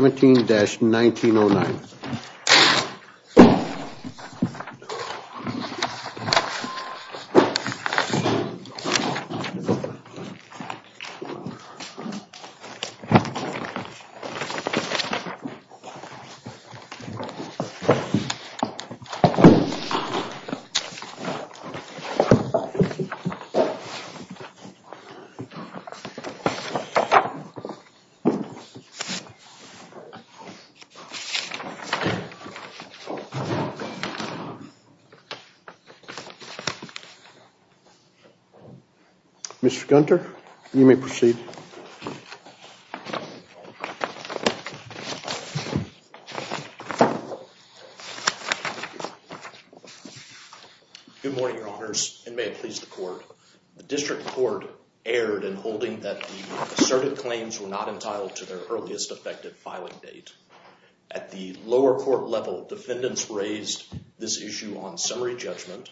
17-1909 Mr. Gunter, you may proceed. Good morning, your honors, and may it please the court. The District Court erred in holding that the asserted claims were not entitled to their earliest effective filing date. At the lower court level, defendants raised this issue on summary judgment,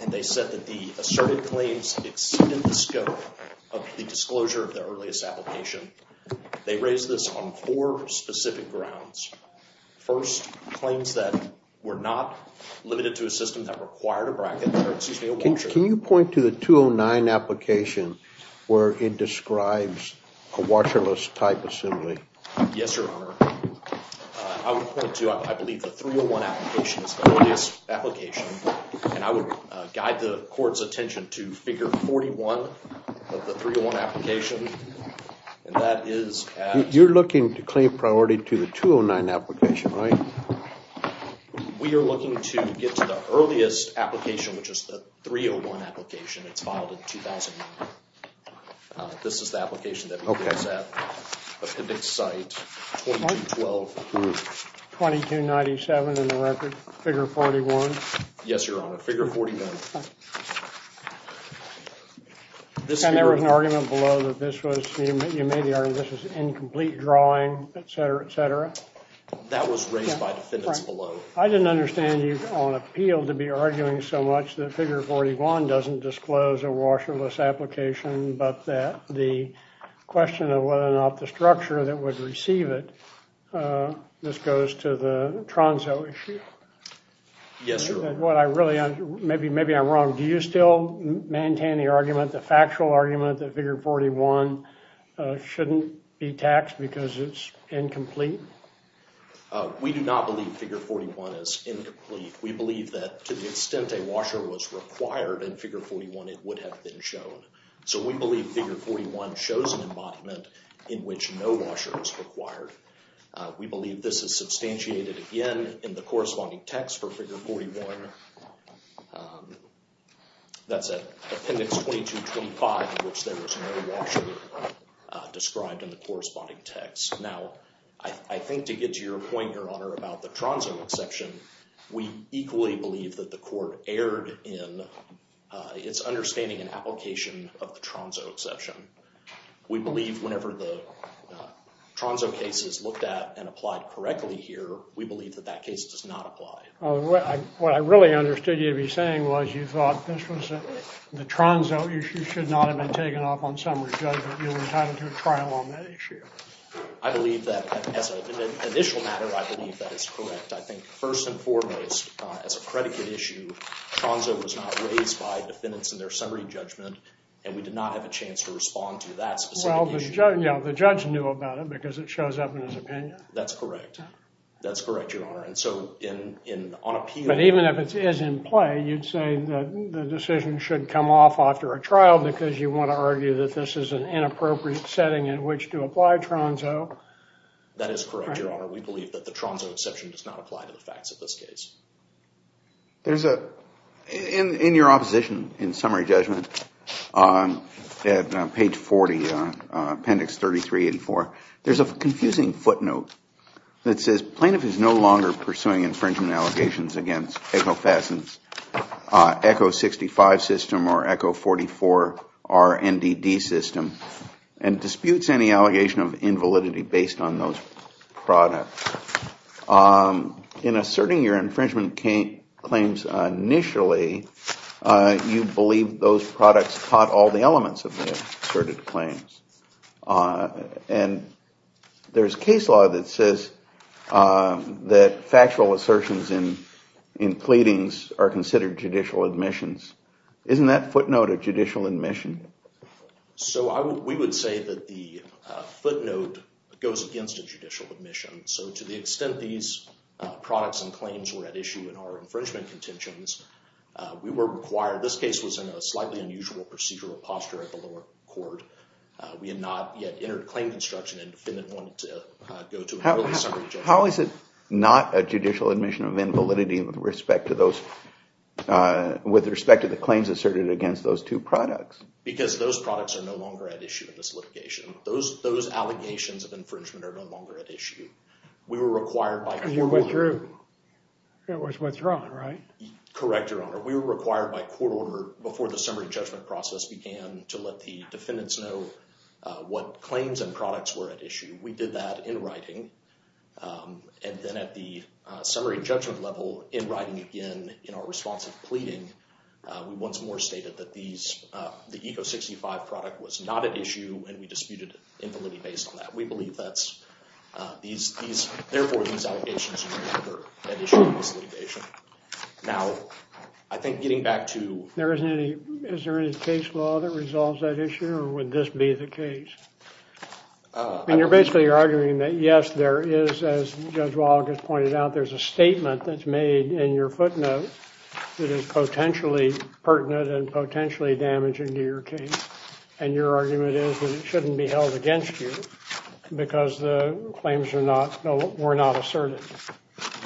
and they said that the asserted claims exceeded the scope of the disclosure of their earliest application. They raised this on four specific grounds. First, claims that were not limited to a system that required a bracket, or excuse me, a watcher. Can you point to the 209 application where it describes a watcherless type assembly? Yes, your honor. I would point to, I believe, the 301 application is the earliest application, and I would guide the court's attention to figure 41 of the 301 application. You're looking to claim priority to the 209 application, right? We are looking to get to the earliest application, which is the 301 application. It's filed in 2009. This is the application that we placed at the PIVX site, 2212. 2297 in the record, figure 41? Yes, your honor, figure 41. And there was an argument below that this was incomplete drawing, etc., etc.? That was raised by defendants below. I didn't understand you on appeal to be arguing so much that figure 41 doesn't disclose a watcherless application, but that the question of whether or not the structure that would receive it, this goes to the Tronso issue. Yes, your honor. Maybe I'm wrong. Do you still maintain the argument, the factual argument, that figure 41 shouldn't be taxed because it's incomplete? We do not believe figure 41 is incomplete. We believe that to the extent a washer was required in figure 41, it would have been shown. So we believe figure 41 shows an embodiment in which no washer is required. We believe this is substantiated again in the corresponding text for figure 41. That's at appendix 2225 in which there was no washer described in the corresponding text. Now, I think to get to your point, your honor, about the Tronso exception, we equally believe that the court erred in its understanding and application of the Tronso exception. We believe whenever the Tronso case is looked at and applied correctly here, we believe that that case does not apply. What I really understood you to be saying was you thought this was the Tronso issue should not have been taken off on summary judgment. You were entitled to a trial on that issue. I believe that as an initial matter, I believe that is correct. I think first and foremost, as a predicate issue, Tronso was not raised by defendants in their summary judgment, and we did not have a chance to respond to that specific issue. Well, the judge knew about it because it shows up in his opinion. That's correct. That's correct, your honor. And so on appeal— But even if it is in play, you'd say the decision should come off after a trial because you want to argue that this is an inappropriate setting in which to apply Tronso. That is correct, your honor. We believe that the Tronso exception does not apply to the facts of this case. There's a—in your opposition in summary judgment at page 40, appendix 3384, there's a confusing footnote that says, plaintiff is no longer pursuing infringement allegations against Echo 65 system or Echo 44 RNDD system and disputes any allegation of invalidity based on those products. In asserting your infringement claims initially, you believe those products caught all the elements of the asserted claims. And there's case law that says that factual assertions in pleadings are considered judicial admissions. Isn't that footnote a judicial admission? So we would say that the footnote goes against a judicial admission. So to the extent these products and claims were at issue in our infringement contentions, we were required—this case was in a slightly unusual procedural posture at the lower court. We had not yet entered claim construction and defendant wanted to go to an early summary judgment. How is it not a judicial admission of invalidity with respect to those— with respect to the claims asserted against those two products? Because those products are no longer at issue in this litigation. Those allegations of infringement are no longer at issue. We were required by court order— You withdrew. It was withdrawn, right? Correct, Your Honor. We were required by court order before the summary judgment process began to let the defendants know what claims and products were at issue. We did that in writing. And then at the summary judgment level, in writing again, in our responsive pleading, we once more stated that these—the ECO 65 product was not at issue and we disputed invalidity based on that. We believe that's—these—therefore, these allegations are no longer at issue in this litigation. Now, I think getting back to— There isn't any—is there any case law that resolves that issue or would this be the case? I mean, you're basically arguing that, yes, there is. As Judge Walters pointed out, there's a statement that's made in your footnote that is potentially pertinent and potentially damaging to your case. And your argument is that it shouldn't be held against you because the claims are not—were not asserted.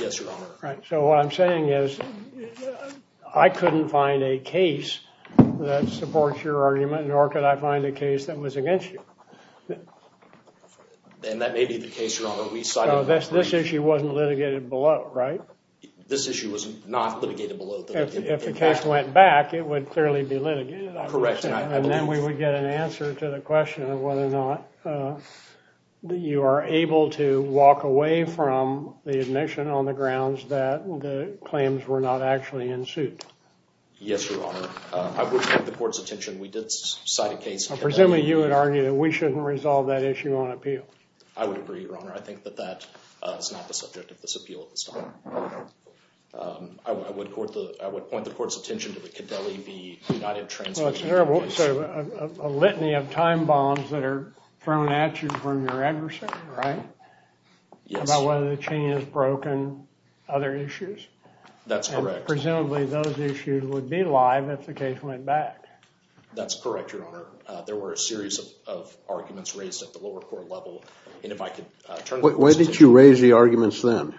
Yes, Your Honor. So what I'm saying is I couldn't find a case that supports your argument nor could I find a case that was against you. And that may be the case, Your Honor, we cited— So this issue wasn't litigated below, right? This issue was not litigated below. If the case went back, it would clearly be litigated. Correct, and I believe— And then we would get an answer to the question of whether or not you are able to walk away from the admission on the grounds that the claims were not actually in suit. Yes, Your Honor. I would like the court's attention. We did cite a case— Presumably you would argue that we shouldn't resolve that issue on appeal. I would agree, Your Honor. I think that that is not the subject of this appeal at this time. I would court the—I would point the court's attention to the Cadeli v. United Transmission. So a litany of time bombs that are thrown at you from your adversary, right? Yes. About whether the chain is broken, other issues. That's correct. Presumably those issues would be alive if the case went back. That's correct, Your Honor. There were a series of arguments raised at the lower court level, and if I could turn— Why did you raise the arguments then?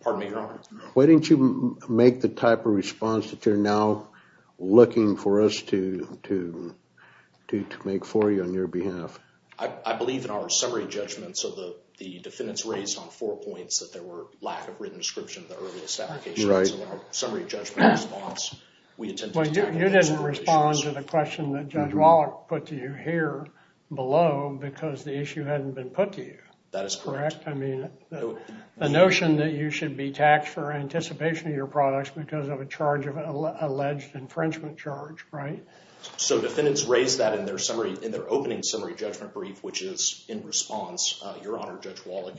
Pardon me, Your Honor? Why didn't you make the type of response that you're now looking for us to make for you on your behalf? I believe in our summary judgment. So the defendants raised on four points that there were lack of written description of the earliest application. Right. Well, you didn't respond to the question that Judge Wallach put to you here below because the issue hadn't been put to you. That is correct. I mean, the notion that you should be taxed for anticipation of your products because of a charge of an alleged infringement charge, right? So defendants raised that in their summary—in their opening summary judgment brief, which is in response, Your Honor, Judge Wallach,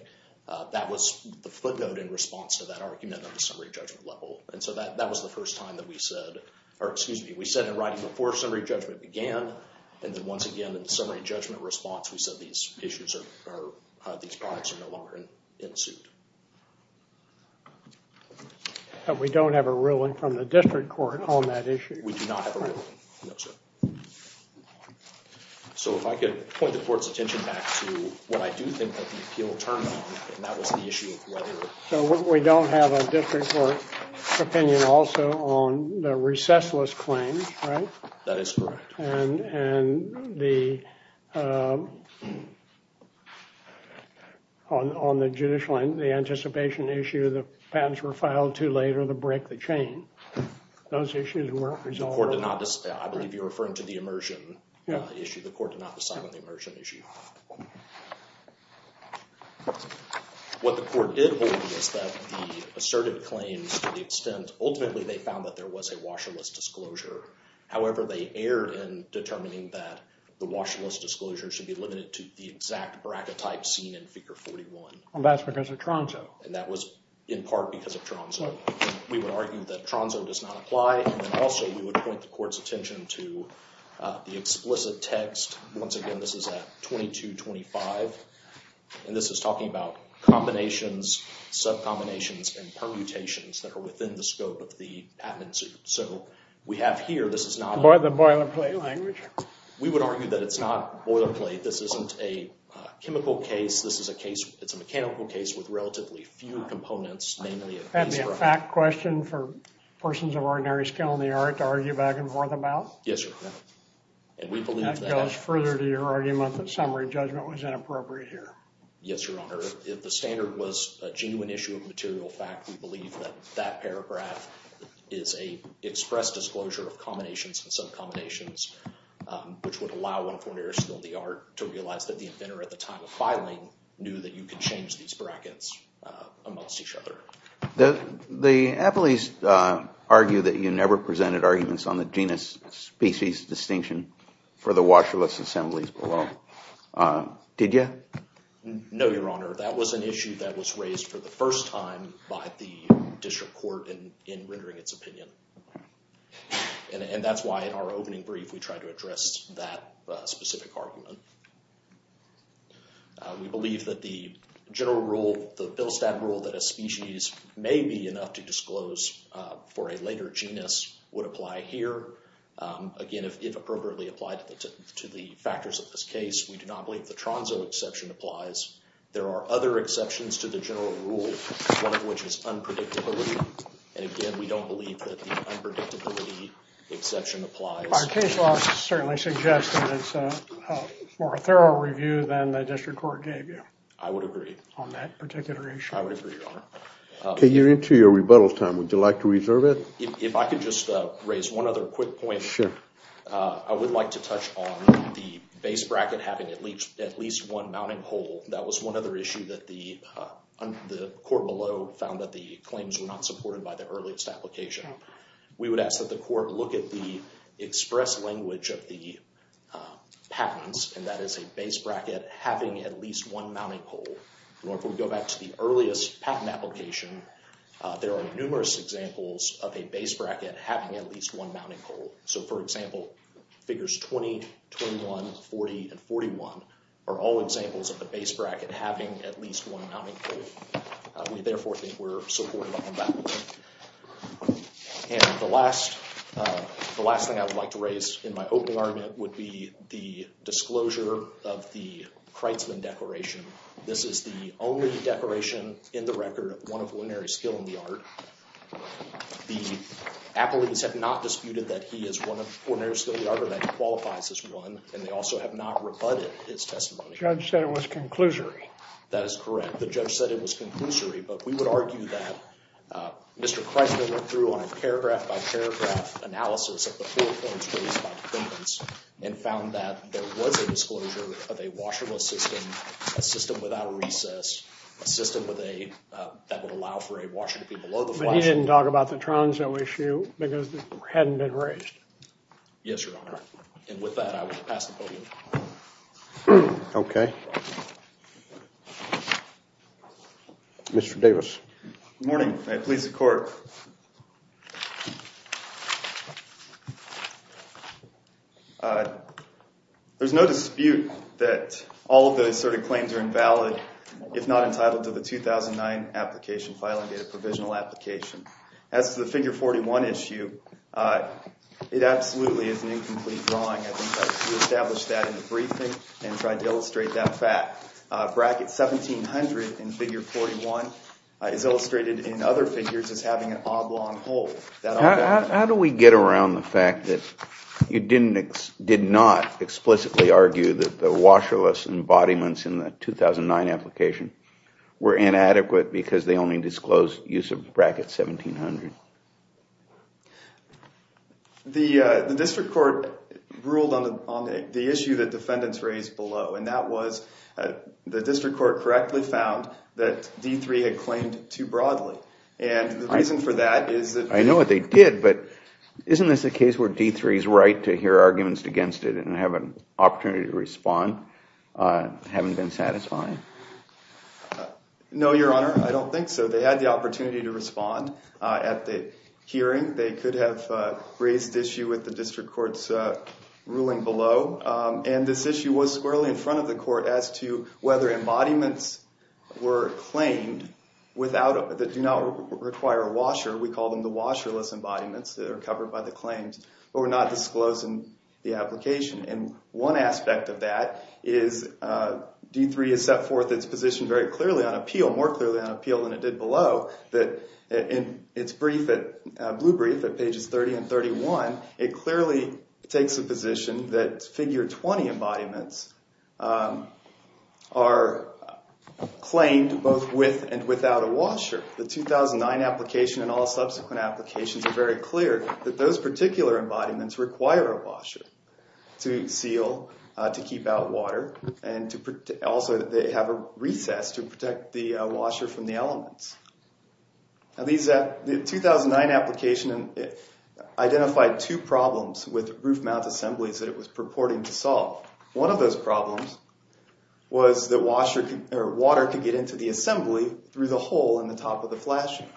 that was the footnote in response to that argument on the summary judgment level. And so that was the first time that we said— or excuse me, we said in writing before summary judgment began, and then once again in the summary judgment response, we said these issues are—these products are no longer in suit. And we don't have a ruling from the district court on that issue? We do not have a ruling, no, sir. So if I could point the court's attention back to what I do think that the appeal turned on, and that was the issue of whether— So we don't have a district court opinion also on the recessless claims, right? That is correct. And the—on the judicial end, the anticipation issue, the patents were filed too late or they break the chain. Those issues weren't resolved— The court did not—I believe you're referring to the immersion issue. The court did not decide on the immersion issue. What the court did hold is that the assertive claims to the extent— ultimately they found that there was a washerless disclosure. However, they erred in determining that the washerless disclosure should be limited to the exact bracket type seen in Figure 41. That's because of Tronzo. And that was in part because of Tronzo. We would argue that Tronzo does not apply, and then also we would point the court's attention to the explicit text. Once again, this is at 2225, and this is talking about combinations, sub-combinations, and permutations that are within the scope of the patent suit. So we have here—this is not— The boilerplate language. We would argue that it's not boilerplate. This isn't a chemical case. This is a case—it's a mechanical case with relatively few components, namely a— That'd be a fact question for persons of ordinary skill in the art to argue back and forth about? Yes, Your Honor. And we believe that— That goes further to your argument that summary judgment was inappropriate here. Yes, Your Honor. If the standard was a genuine issue of material fact, we believe that that paragraph is a express disclosure of combinations and sub-combinations, which would allow one of ordinary skill in the art to realize that the inventor at the time of filing knew that you could change these brackets amongst each other. The appellees argue that you never presented arguments on the genus-species distinction for the washerless assemblies below. Did you? No, Your Honor. That was an issue that was raised for the first time by the district court in rendering its opinion. And that's why in our opening brief, we tried to address that specific argument. We believe that the general rule, the Billstadt rule that a species may be enough to disclose for a later genus would apply here. Again, if appropriately applied to the factors of this case, we do not believe the Tronso exception applies. There are other exceptions to the general rule, one of which is unpredictability. And again, we don't believe that the unpredictability exception applies. Our case law certainly suggests that it's a more thorough review than the district court gave you. I would agree. On that particular issue. I would agree, Your Honor. Okay, you're into your rebuttal time. Would you like to reserve it? If I could just raise one other quick point. Sure. I would like to touch on the base bracket having at least one mounting hole. That was one other issue that the court below found that the claims were not supported by the earliest application. We would ask that the court look at the express language of the patents, and that is a base bracket having at least one mounting hole. If we go back to the earliest patent application, there are numerous examples of a base bracket having at least one mounting hole. So, for example, figures 20, 21, 40, and 41 are all examples of the base bracket having at least one mounting hole. We, therefore, think we're supported on that. And the last thing I would like to raise in my opening argument would be the disclosure of the Kreitzman declaration. This is the only declaration in the record of one of ordinary skill in the art. The appellees have not disputed that he is one of ordinary skill in the art or that he qualifies as one, and they also have not rebutted his testimony. The judge said it was conclusory. That is correct. The judge said it was conclusory, but we would argue that Mr. Kreitzman went through on a paragraph-by-paragraph analysis of the four claims raised by the defendants and found that there was a disclosure of a washable system, a system without a recess, a system that would allow for a washer to be below the flush. But he didn't talk about the Tronso issue because it hadn't been raised. Yes, Your Honor. And with that, I will pass the podium. Okay. Mr. Davis. Good morning. Police and court. There's no dispute that all of the asserted claims are invalid if not entitled to the 2009 application filing in a provisional application. As to the Figure 41 issue, it absolutely is an incomplete drawing. I think that we established that in the briefing and tried to illustrate that fact. Bracket 1700 in Figure 41 is illustrated in other figures as having an oblong hole. How do we get around the fact that you did not explicitly argue that the washerless embodiments in the 2009 application were inadequate because they only disclosed use of bracket 1700? The district court ruled on the issue that defendants raised below, and that was the district court correctly found that D3 had claimed too broadly. And the reason for that is that... I know what they did, but isn't this a case where D3 is right to hear arguments against it and have an opportunity to respond having been satisfied? No, Your Honor. I don't think so. They had the opportunity to respond at the hearing. They could have raised the issue with the district court's ruling below. And this issue was squarely in front of the court as to whether embodiments were claimed that do not require a washer. We call them the washerless embodiments that are covered by the claims but were not disclosed in the application. And one aspect of that is D3 has set forth its position very clearly on appeal, more clearly on appeal than it did below, that in its blue brief at pages 30 and 31, it clearly takes a position that figure 20 embodiments are claimed both with and without a washer. The 2009 application and all subsequent applications are very clear that those particular embodiments require a washer to seal, to keep out water, and also they have a recess to protect the washer from the elements. The 2009 application identified two problems with roof mount assemblies that it was purporting to solve. One of those problems was that water could get into the assembly through the hole in the top of the flashing.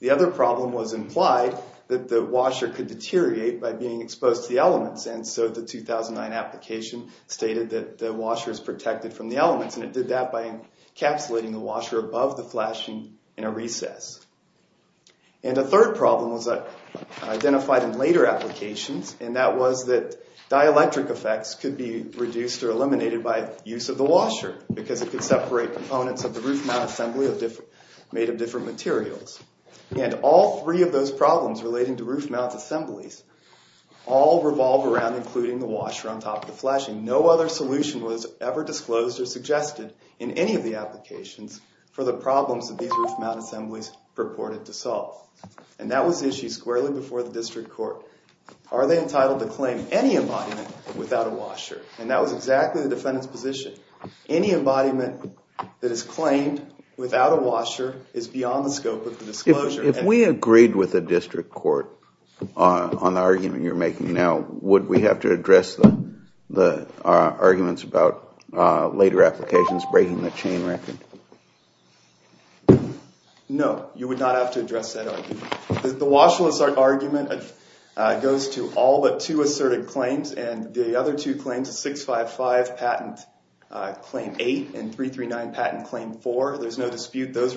The other problem was implied that the washer could deteriorate by being exposed to the elements, and so the 2009 application stated that the washer is protected from the elements and it did that by encapsulating the washer above the flashing in a recess. And a third problem was identified in later applications, and that was that dielectric effects could be reduced or eliminated by use of the washer because it could separate components of the roof mount assembly made of different materials. And all three of those problems relating to roof mount assemblies all revolve around including the washer on top of the flashing. No other solution was ever disclosed or suggested in any of the applications for the problems that these roof mount assemblies purported to solve. And that was issued squarely before the district court. Are they entitled to claim any embodiment without a washer? And that was exactly the defendant's position. Any embodiment that is claimed without a washer is beyond the scope of the disclosure. If we agreed with the district court on the argument you're making now, would we have to address the arguments about later applications breaking the chain record? No, you would not have to address that argument. The washerless argument goes to all but two asserted claims, and the other two claims, 655 patent claim 8 and 339 patent claim 4, there's no dispute those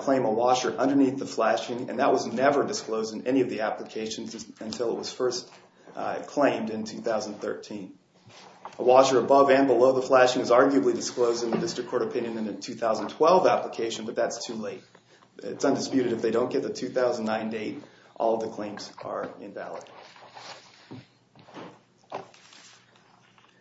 claim a washer underneath the flashing, and that was never disclosed in any of the applications until it was first claimed in 2013. A washer above and below the flashing is arguably disclosed in the district court opinion in the 2012 application, but that's too late. It's undisputed if they don't get the 2009 date, all the claims are invalid.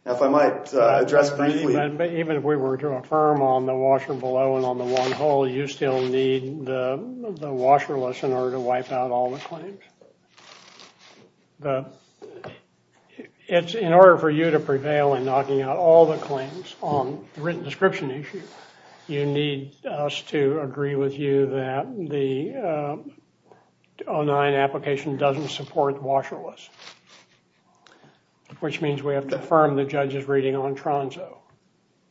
Now if I might address briefly. Even if we were to affirm on the washer below and on the one hole, will you still need the washerless in order to wipe out all the claims? In order for you to prevail in knocking out all the claims on the written description issue, you need us to agree with you that the 2009 application doesn't support washerless, which means we have to affirm the judge's reading on Tronso.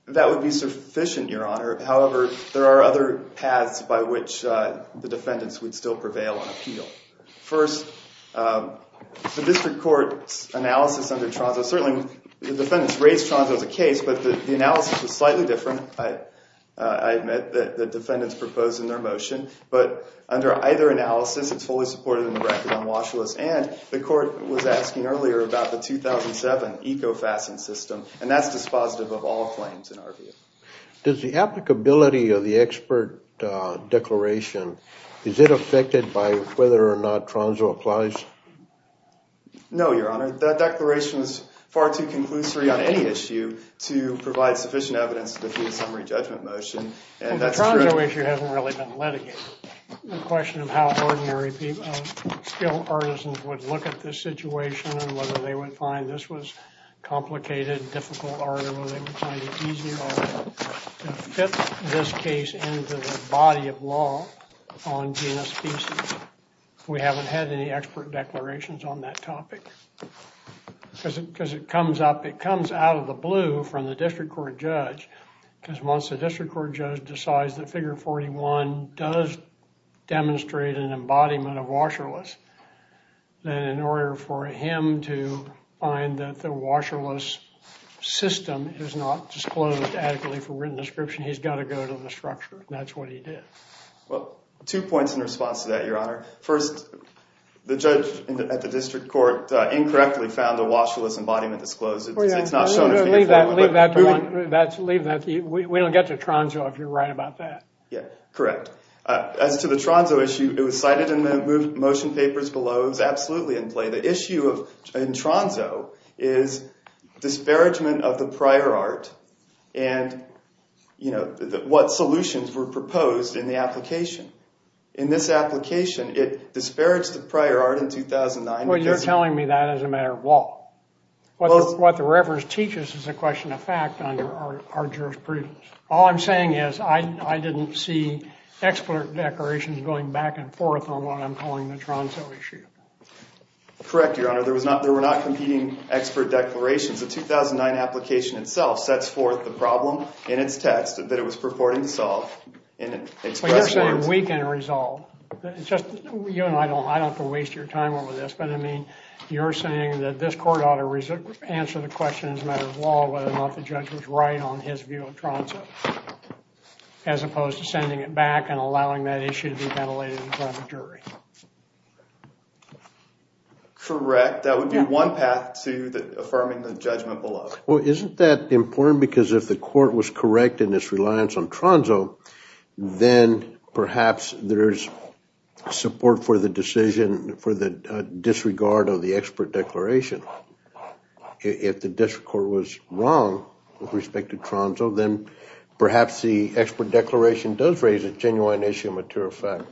That would be sufficient, Your Honor. However, there are other paths by which the defendants would still prevail on appeal. First, the district court's analysis under Tronso, certainly the defendants raised Tronso as a case, but the analysis was slightly different. I admit that the defendants proposed in their motion, but under either analysis, it's fully supported in the record on washerless, and the court was asking earlier about the 2007 eco-fastening system, and that's dispositive of all claims in our view. Does the applicability of the expert declaration, is it affected by whether or not Tronso applies? No, Your Honor. That declaration is far too conclusory on any issue to provide sufficient evidence to defuse a summary judgment motion. And the Tronso issue hasn't really been litigated. The question of how ordinary skilled artisans would look at this situation and whether they would find this was complicated, difficult art, or whether they would find it easier to fit this case into the body of law on genus species. We haven't had any expert declarations on that topic. Because it comes out of the blue from the district court judge, because once the district court judge decides that figure 41 does demonstrate an embodiment of washerless, then in order for him to find that the washerless system is not disclosed adequately for written description, he's got to go to the structure. And that's what he did. Well, two points in response to that, Your Honor. First, the judge at the district court incorrectly found the washerless embodiment disclosed. It's not shown in the figure 41. Leave that to me. We don't get to Tronso if you're right about that. Yeah, correct. As to the Tronso issue, it was cited in the motion papers below. It was absolutely in play. The issue in Tronso is disparagement of the prior art and what solutions were proposed in the application. In this application, it disparaged the prior art in 2009. Well, you're telling me that as a matter of law. What the reference teaches is a question of fact under our jurisprudence. All I'm saying is I didn't see expert declarations going back and forth on what I'm calling the Tronso issue. Correct, Your Honor. There were not competing expert declarations. The 2009 application itself sets forth the problem in its text that it was purporting to solve. Well, you're saying we can resolve. You and I don't have to waste your time over this. But, I mean, you're saying that this court ought to answer the question as a matter of law whether or not the judge was right on his view of Tronso as opposed to sending it back and allowing that issue to be ventilated in front of the jury. Correct. That would be one path to affirming the judgment below. Well, isn't that important? Because if the court was correct in its reliance on Tronso, then perhaps there's support for the decision for the disregard of the expert declaration. If the district court was wrong with respect to Tronso, then perhaps the expert declaration does raise a genuine issue of material fact.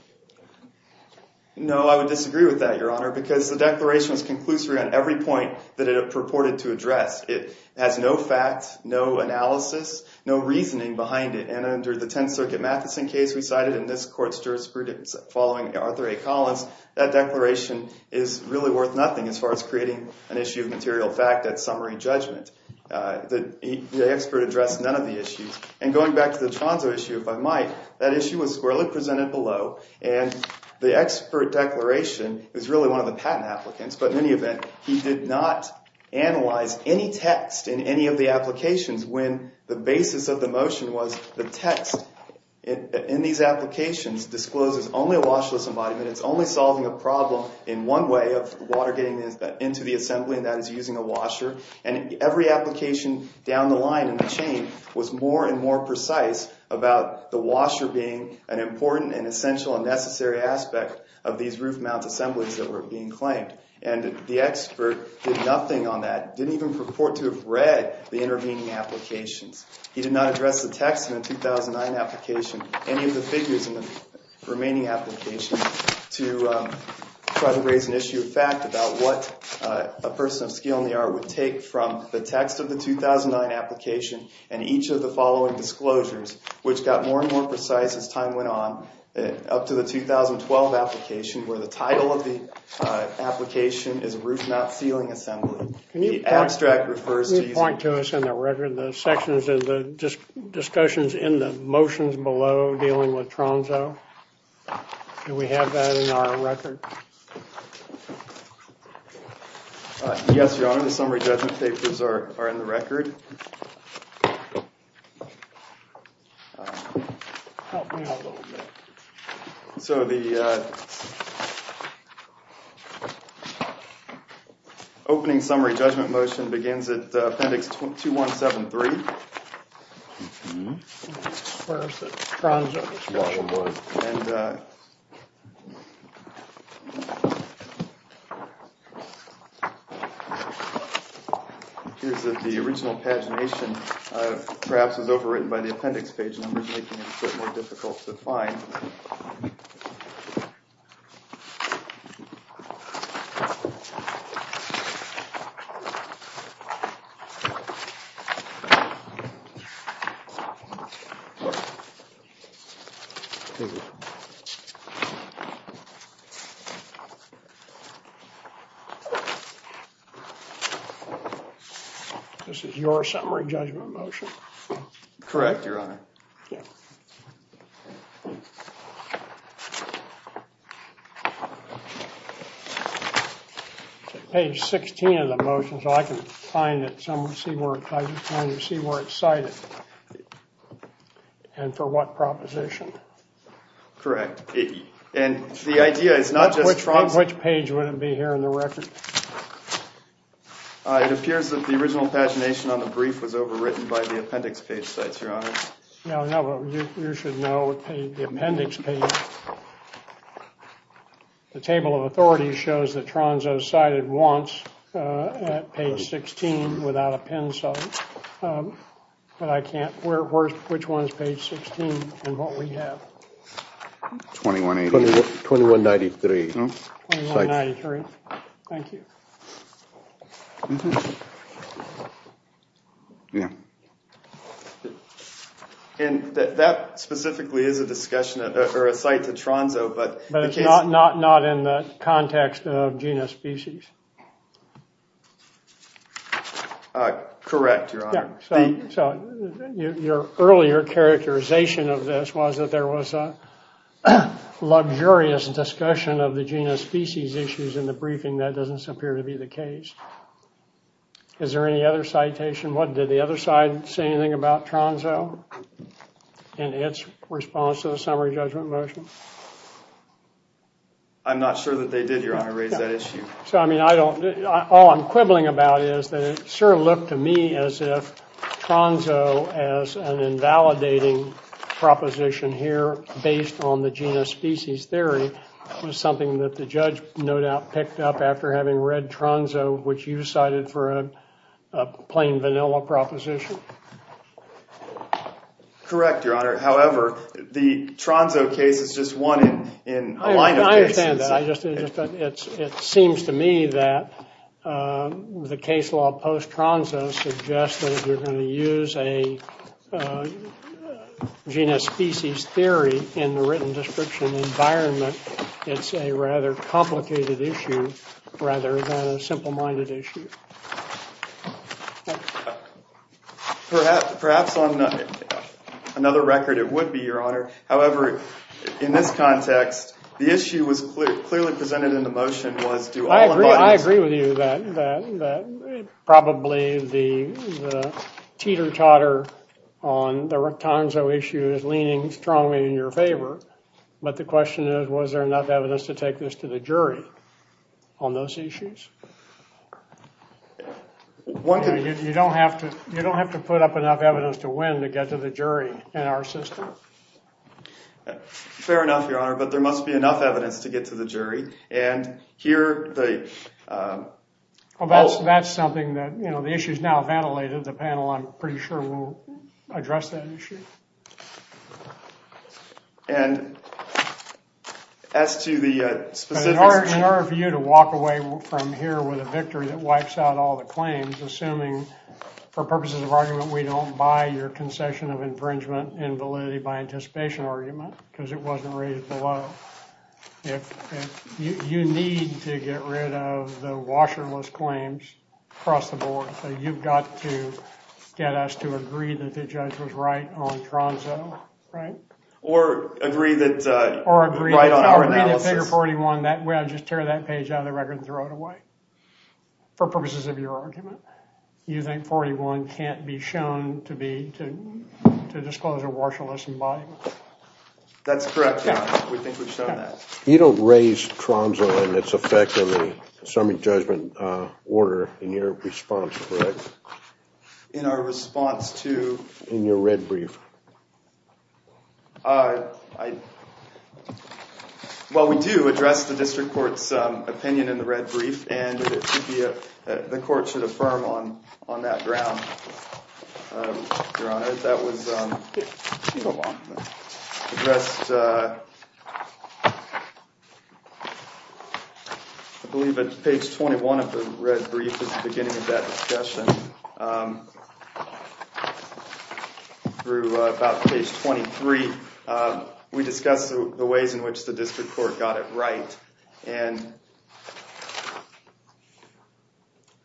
No, I would disagree with that, Your Honor, because the declaration was conclusory on every point that it purported to address. It has no fact, no analysis, no reasoning behind it. And under the Tenth Circuit Matheson case we cited, and this court's jurisprudence following Arthur A. Collins, that declaration is really worth nothing as far as creating an issue of material fact that's summary judgment. The expert addressed none of the issues. And going back to the Tronso issue, if I might, that issue was squarely presented below, and the expert declaration is really one of the patent applicants. But in any event, he did not analyze any text in any of the applications when the basis of the motion was the text in these applications discloses only a watchlist embodiment. It's only solving a problem in one way of water getting into the assembly, and that is using a washer. And every application down the line in the chain was more and more precise about the washer being an important and essential and necessary aspect of these roof-mount assemblies that were being claimed. And the expert did nothing on that, didn't even purport to have read the intervening applications. He did not address the text in the 2009 application, any of the figures in the remaining applications, to try to raise an issue of fact about what a person of skill in the art would take from the text of the 2009 application and each of the following disclosures, which got more and more precise as time went on, up to the 2012 application where the title of the application is roof-mount ceiling assembly. Can you point to us in the record the sections of the discussions in the motions below dealing with Tronzo? Do we have that in our record? Yes, Your Honor, the summary judgment papers are in the record. Help me out a little bit. So the opening summary judgment motion begins at Appendix 2173. Where is it? Tronzo. It appears that the original pagination perhaps was overwritten by the appendix page numbers, making it a bit more difficult to find. Thank you. This is your summary judgment motion? Correct, Your Honor. Page 16 of the motion, so I can see where it's cited and for what proposition. Correct. And the idea is not just Tronzo. Which page would it be here in the record? It appears that the original pagination on the brief was overwritten by the appendix page sites, Your Honor. You should know the appendix page. The table of authorities shows that Tronzo is cited once at page 16 without a pencil. But I can't, which one is page 16 and what we have? 2183. Thank you. And that specifically is a discussion or a cite to Tronzo, but... But it's not in the context of genus species. Correct, Your Honor. So your earlier characterization of this was that there was a luxurious discussion of the genus species issues in the briefing. That doesn't appear to be the case. Is there any other citation? Did the other side say anything about Tronzo in its response to the summary judgment motion? I'm not sure that they did, Your Honor, raise that issue. All I'm quibbling about is that it sure looked to me as if Tronzo as an invalidating proposition here based on the genus species theory was something that the judge no doubt picked up after having read Tronzo, which you cited for a plain vanilla proposition. Correct, Your Honor. However, the Tronzo case is just one in a line of cases. I understand that. It seems to me that the case law post-Tronzo suggests that if you're going to use a genus species theory in the written description environment, it's a rather complicated issue rather than a simple-minded issue. Perhaps on another record it would be, Your Honor. However, in this context, the issue was clearly presented in the motion. I agree with you that probably the teeter-totter on the Tronzo issue is leaning strongly in your favor, but the question is was there enough evidence to take this to the jury on those issues? You don't have to put up enough evidence to win to get to the jury in our system. Fair enough, Your Honor, but there must be enough evidence to get to the jury. That's something that the issue is now ventilated. The panel, I'm pretty sure, will address that issue. In order for you to walk away from here with a victory that wipes out all the claims, assuming for purposes of argument we don't buy your concession of infringement in validity by anticipation argument because it wasn't rated below, you need to get rid of the washerless claims across the board. You've got to get us to agree that the judge was right on Tronzo, right? Or agree that right on our analysis. Or agree that figure 41, we ought to just tear that page out of the record and throw it away for purposes of your argument. You think 41 can't be shown to disclose a washerless embodiment? That's correct, Your Honor. We think we've shown that. You don't raise Tronzo and its effect on the assembly judgment order in your response, correct? In our response to? In your red brief? Well, we do address the district court's opinion in the red brief, and the court should affirm on that ground, Your Honor. That was addressed, I believe, at page 21 of the red brief at the beginning of that discussion. Through about page 23, we discussed the ways in which the district court got it right, and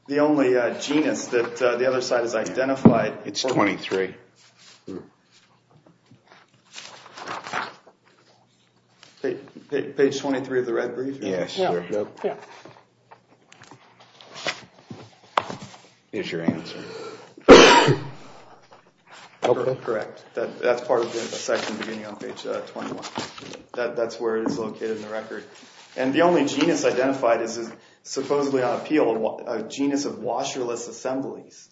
the only genus that the other side has identified. It's 23. Page 23 of the red brief? Yes. Here's your answer. Correct. That's part of the section beginning on page 21. That's where it is located in the record. And the only genus identified is supposedly on appeal, a genus of washerless assemblies.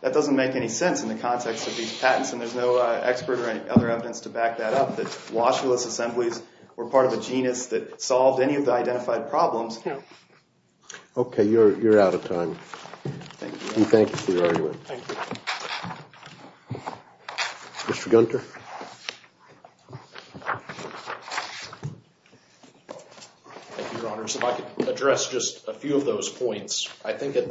That doesn't make any sense in the context of these patents, and there's no expert or any other evidence to back that up, that washerless assemblies were part of a genus that solved any of the identified problems. No. Okay. You're out of time. Thank you. And thank you for your argument. Thank you. Mr. Gunter? Thank you, Your Honor. So if I could address just a few of those points. I think that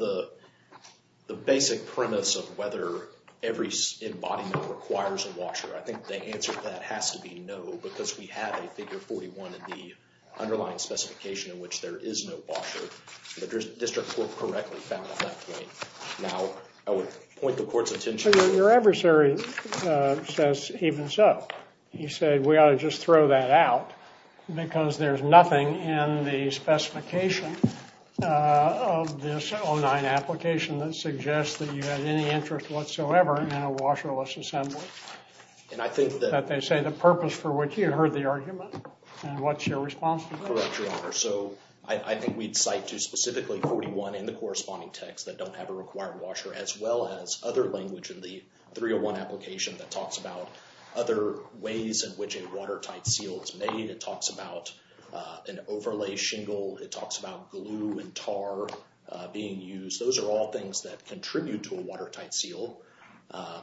the basic premise of whether every embodiment requires a washer, I think the answer to that has to be no, because we have a figure 41 in the underlying specification in which there is no washer. The district court correctly found that point. Now, I would point the court's attention to the other side. Your adversary says even so. He said we ought to just throw that out because there's nothing in the specification of this 09 application that suggests that you had any interest whatsoever in a washerless assembly, that they say the purpose for which you heard the argument and what's your responsibility. Correct, Your Honor. So I think we'd cite to specifically 41 in the corresponding text that don't have a required washer, as well as other language in the 301 application that talks about other ways in which a watertight seal is made. It talks about an overlay shingle. It talks about glue and tar being used. Those are all things that contribute to a watertight seal,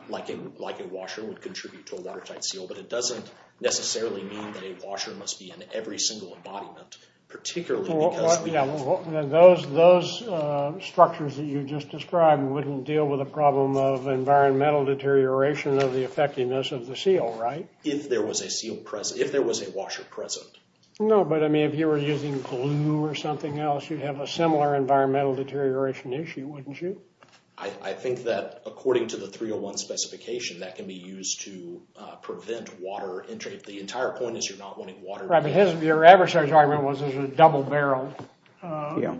like a washer would contribute to a watertight seal. But it doesn't necessarily mean that a washer must be in every single embodiment, particularly because we have- Those structures that you just described wouldn't deal with a problem of environmental deterioration of the effectiveness of the seal, right? If there was a washer present. No, but I mean if you were using glue or something else, you'd have a similar environmental deterioration issue, wouldn't you? I think that according to the 301 specification, that can be used to prevent water entry. The entire point is you're not wanting water- Your adversary's argument was there's a double barrel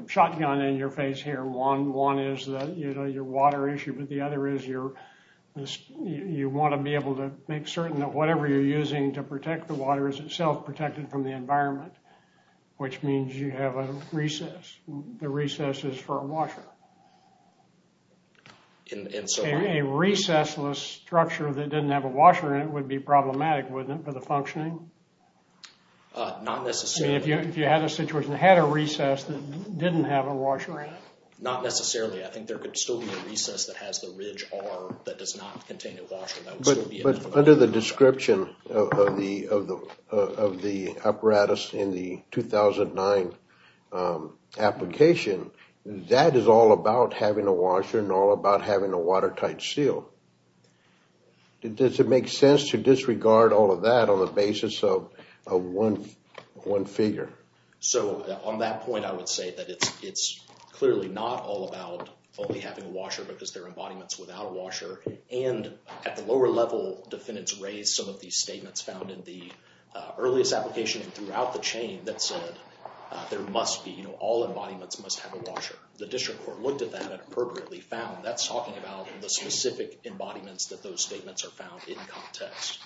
shotgun in your face here. One is your water issue, but the other is you want to be able to make certain that whatever you're using to protect the water is itself protected from the environment, which means you have a recess. The recess is for a washer. A recessless structure that didn't have a washer in it would be problematic, wouldn't it, for the functioning? Not necessarily. If you had a situation that had a recess that didn't have a washer in it? Not necessarily. I think there could still be a recess that has the ridge arm that does not contain a washer. But under the description of the apparatus in the 2009 application, that is all about having a washer and all about having a watertight seal. Does it make sense to disregard all of that on the basis of one figure? On that point, I would say that it's clearly not all about only having a washer because there are embodiments without a washer. At the lower level, defendants raised some of these statements found in the earliest applications throughout the chain that said there must be- All embodiments must have a washer. The district court looked at that and appropriately found that's talking about the specific embodiments that those statements are found in context.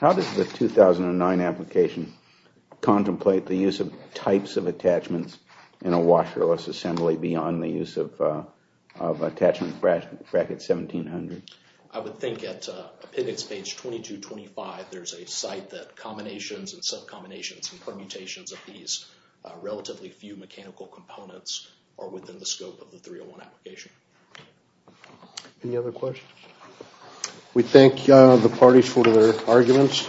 How does the 2009 application contemplate the use of types of attachments in a washerless assembly beyond the use of attachment bracket 1700? I would think at pivots page 2225, there's a site that combinations and sub-combinations and permutations of these relatively few mechanical components are within the scope of the 301 application. Any other questions? We thank the parties for their arguments.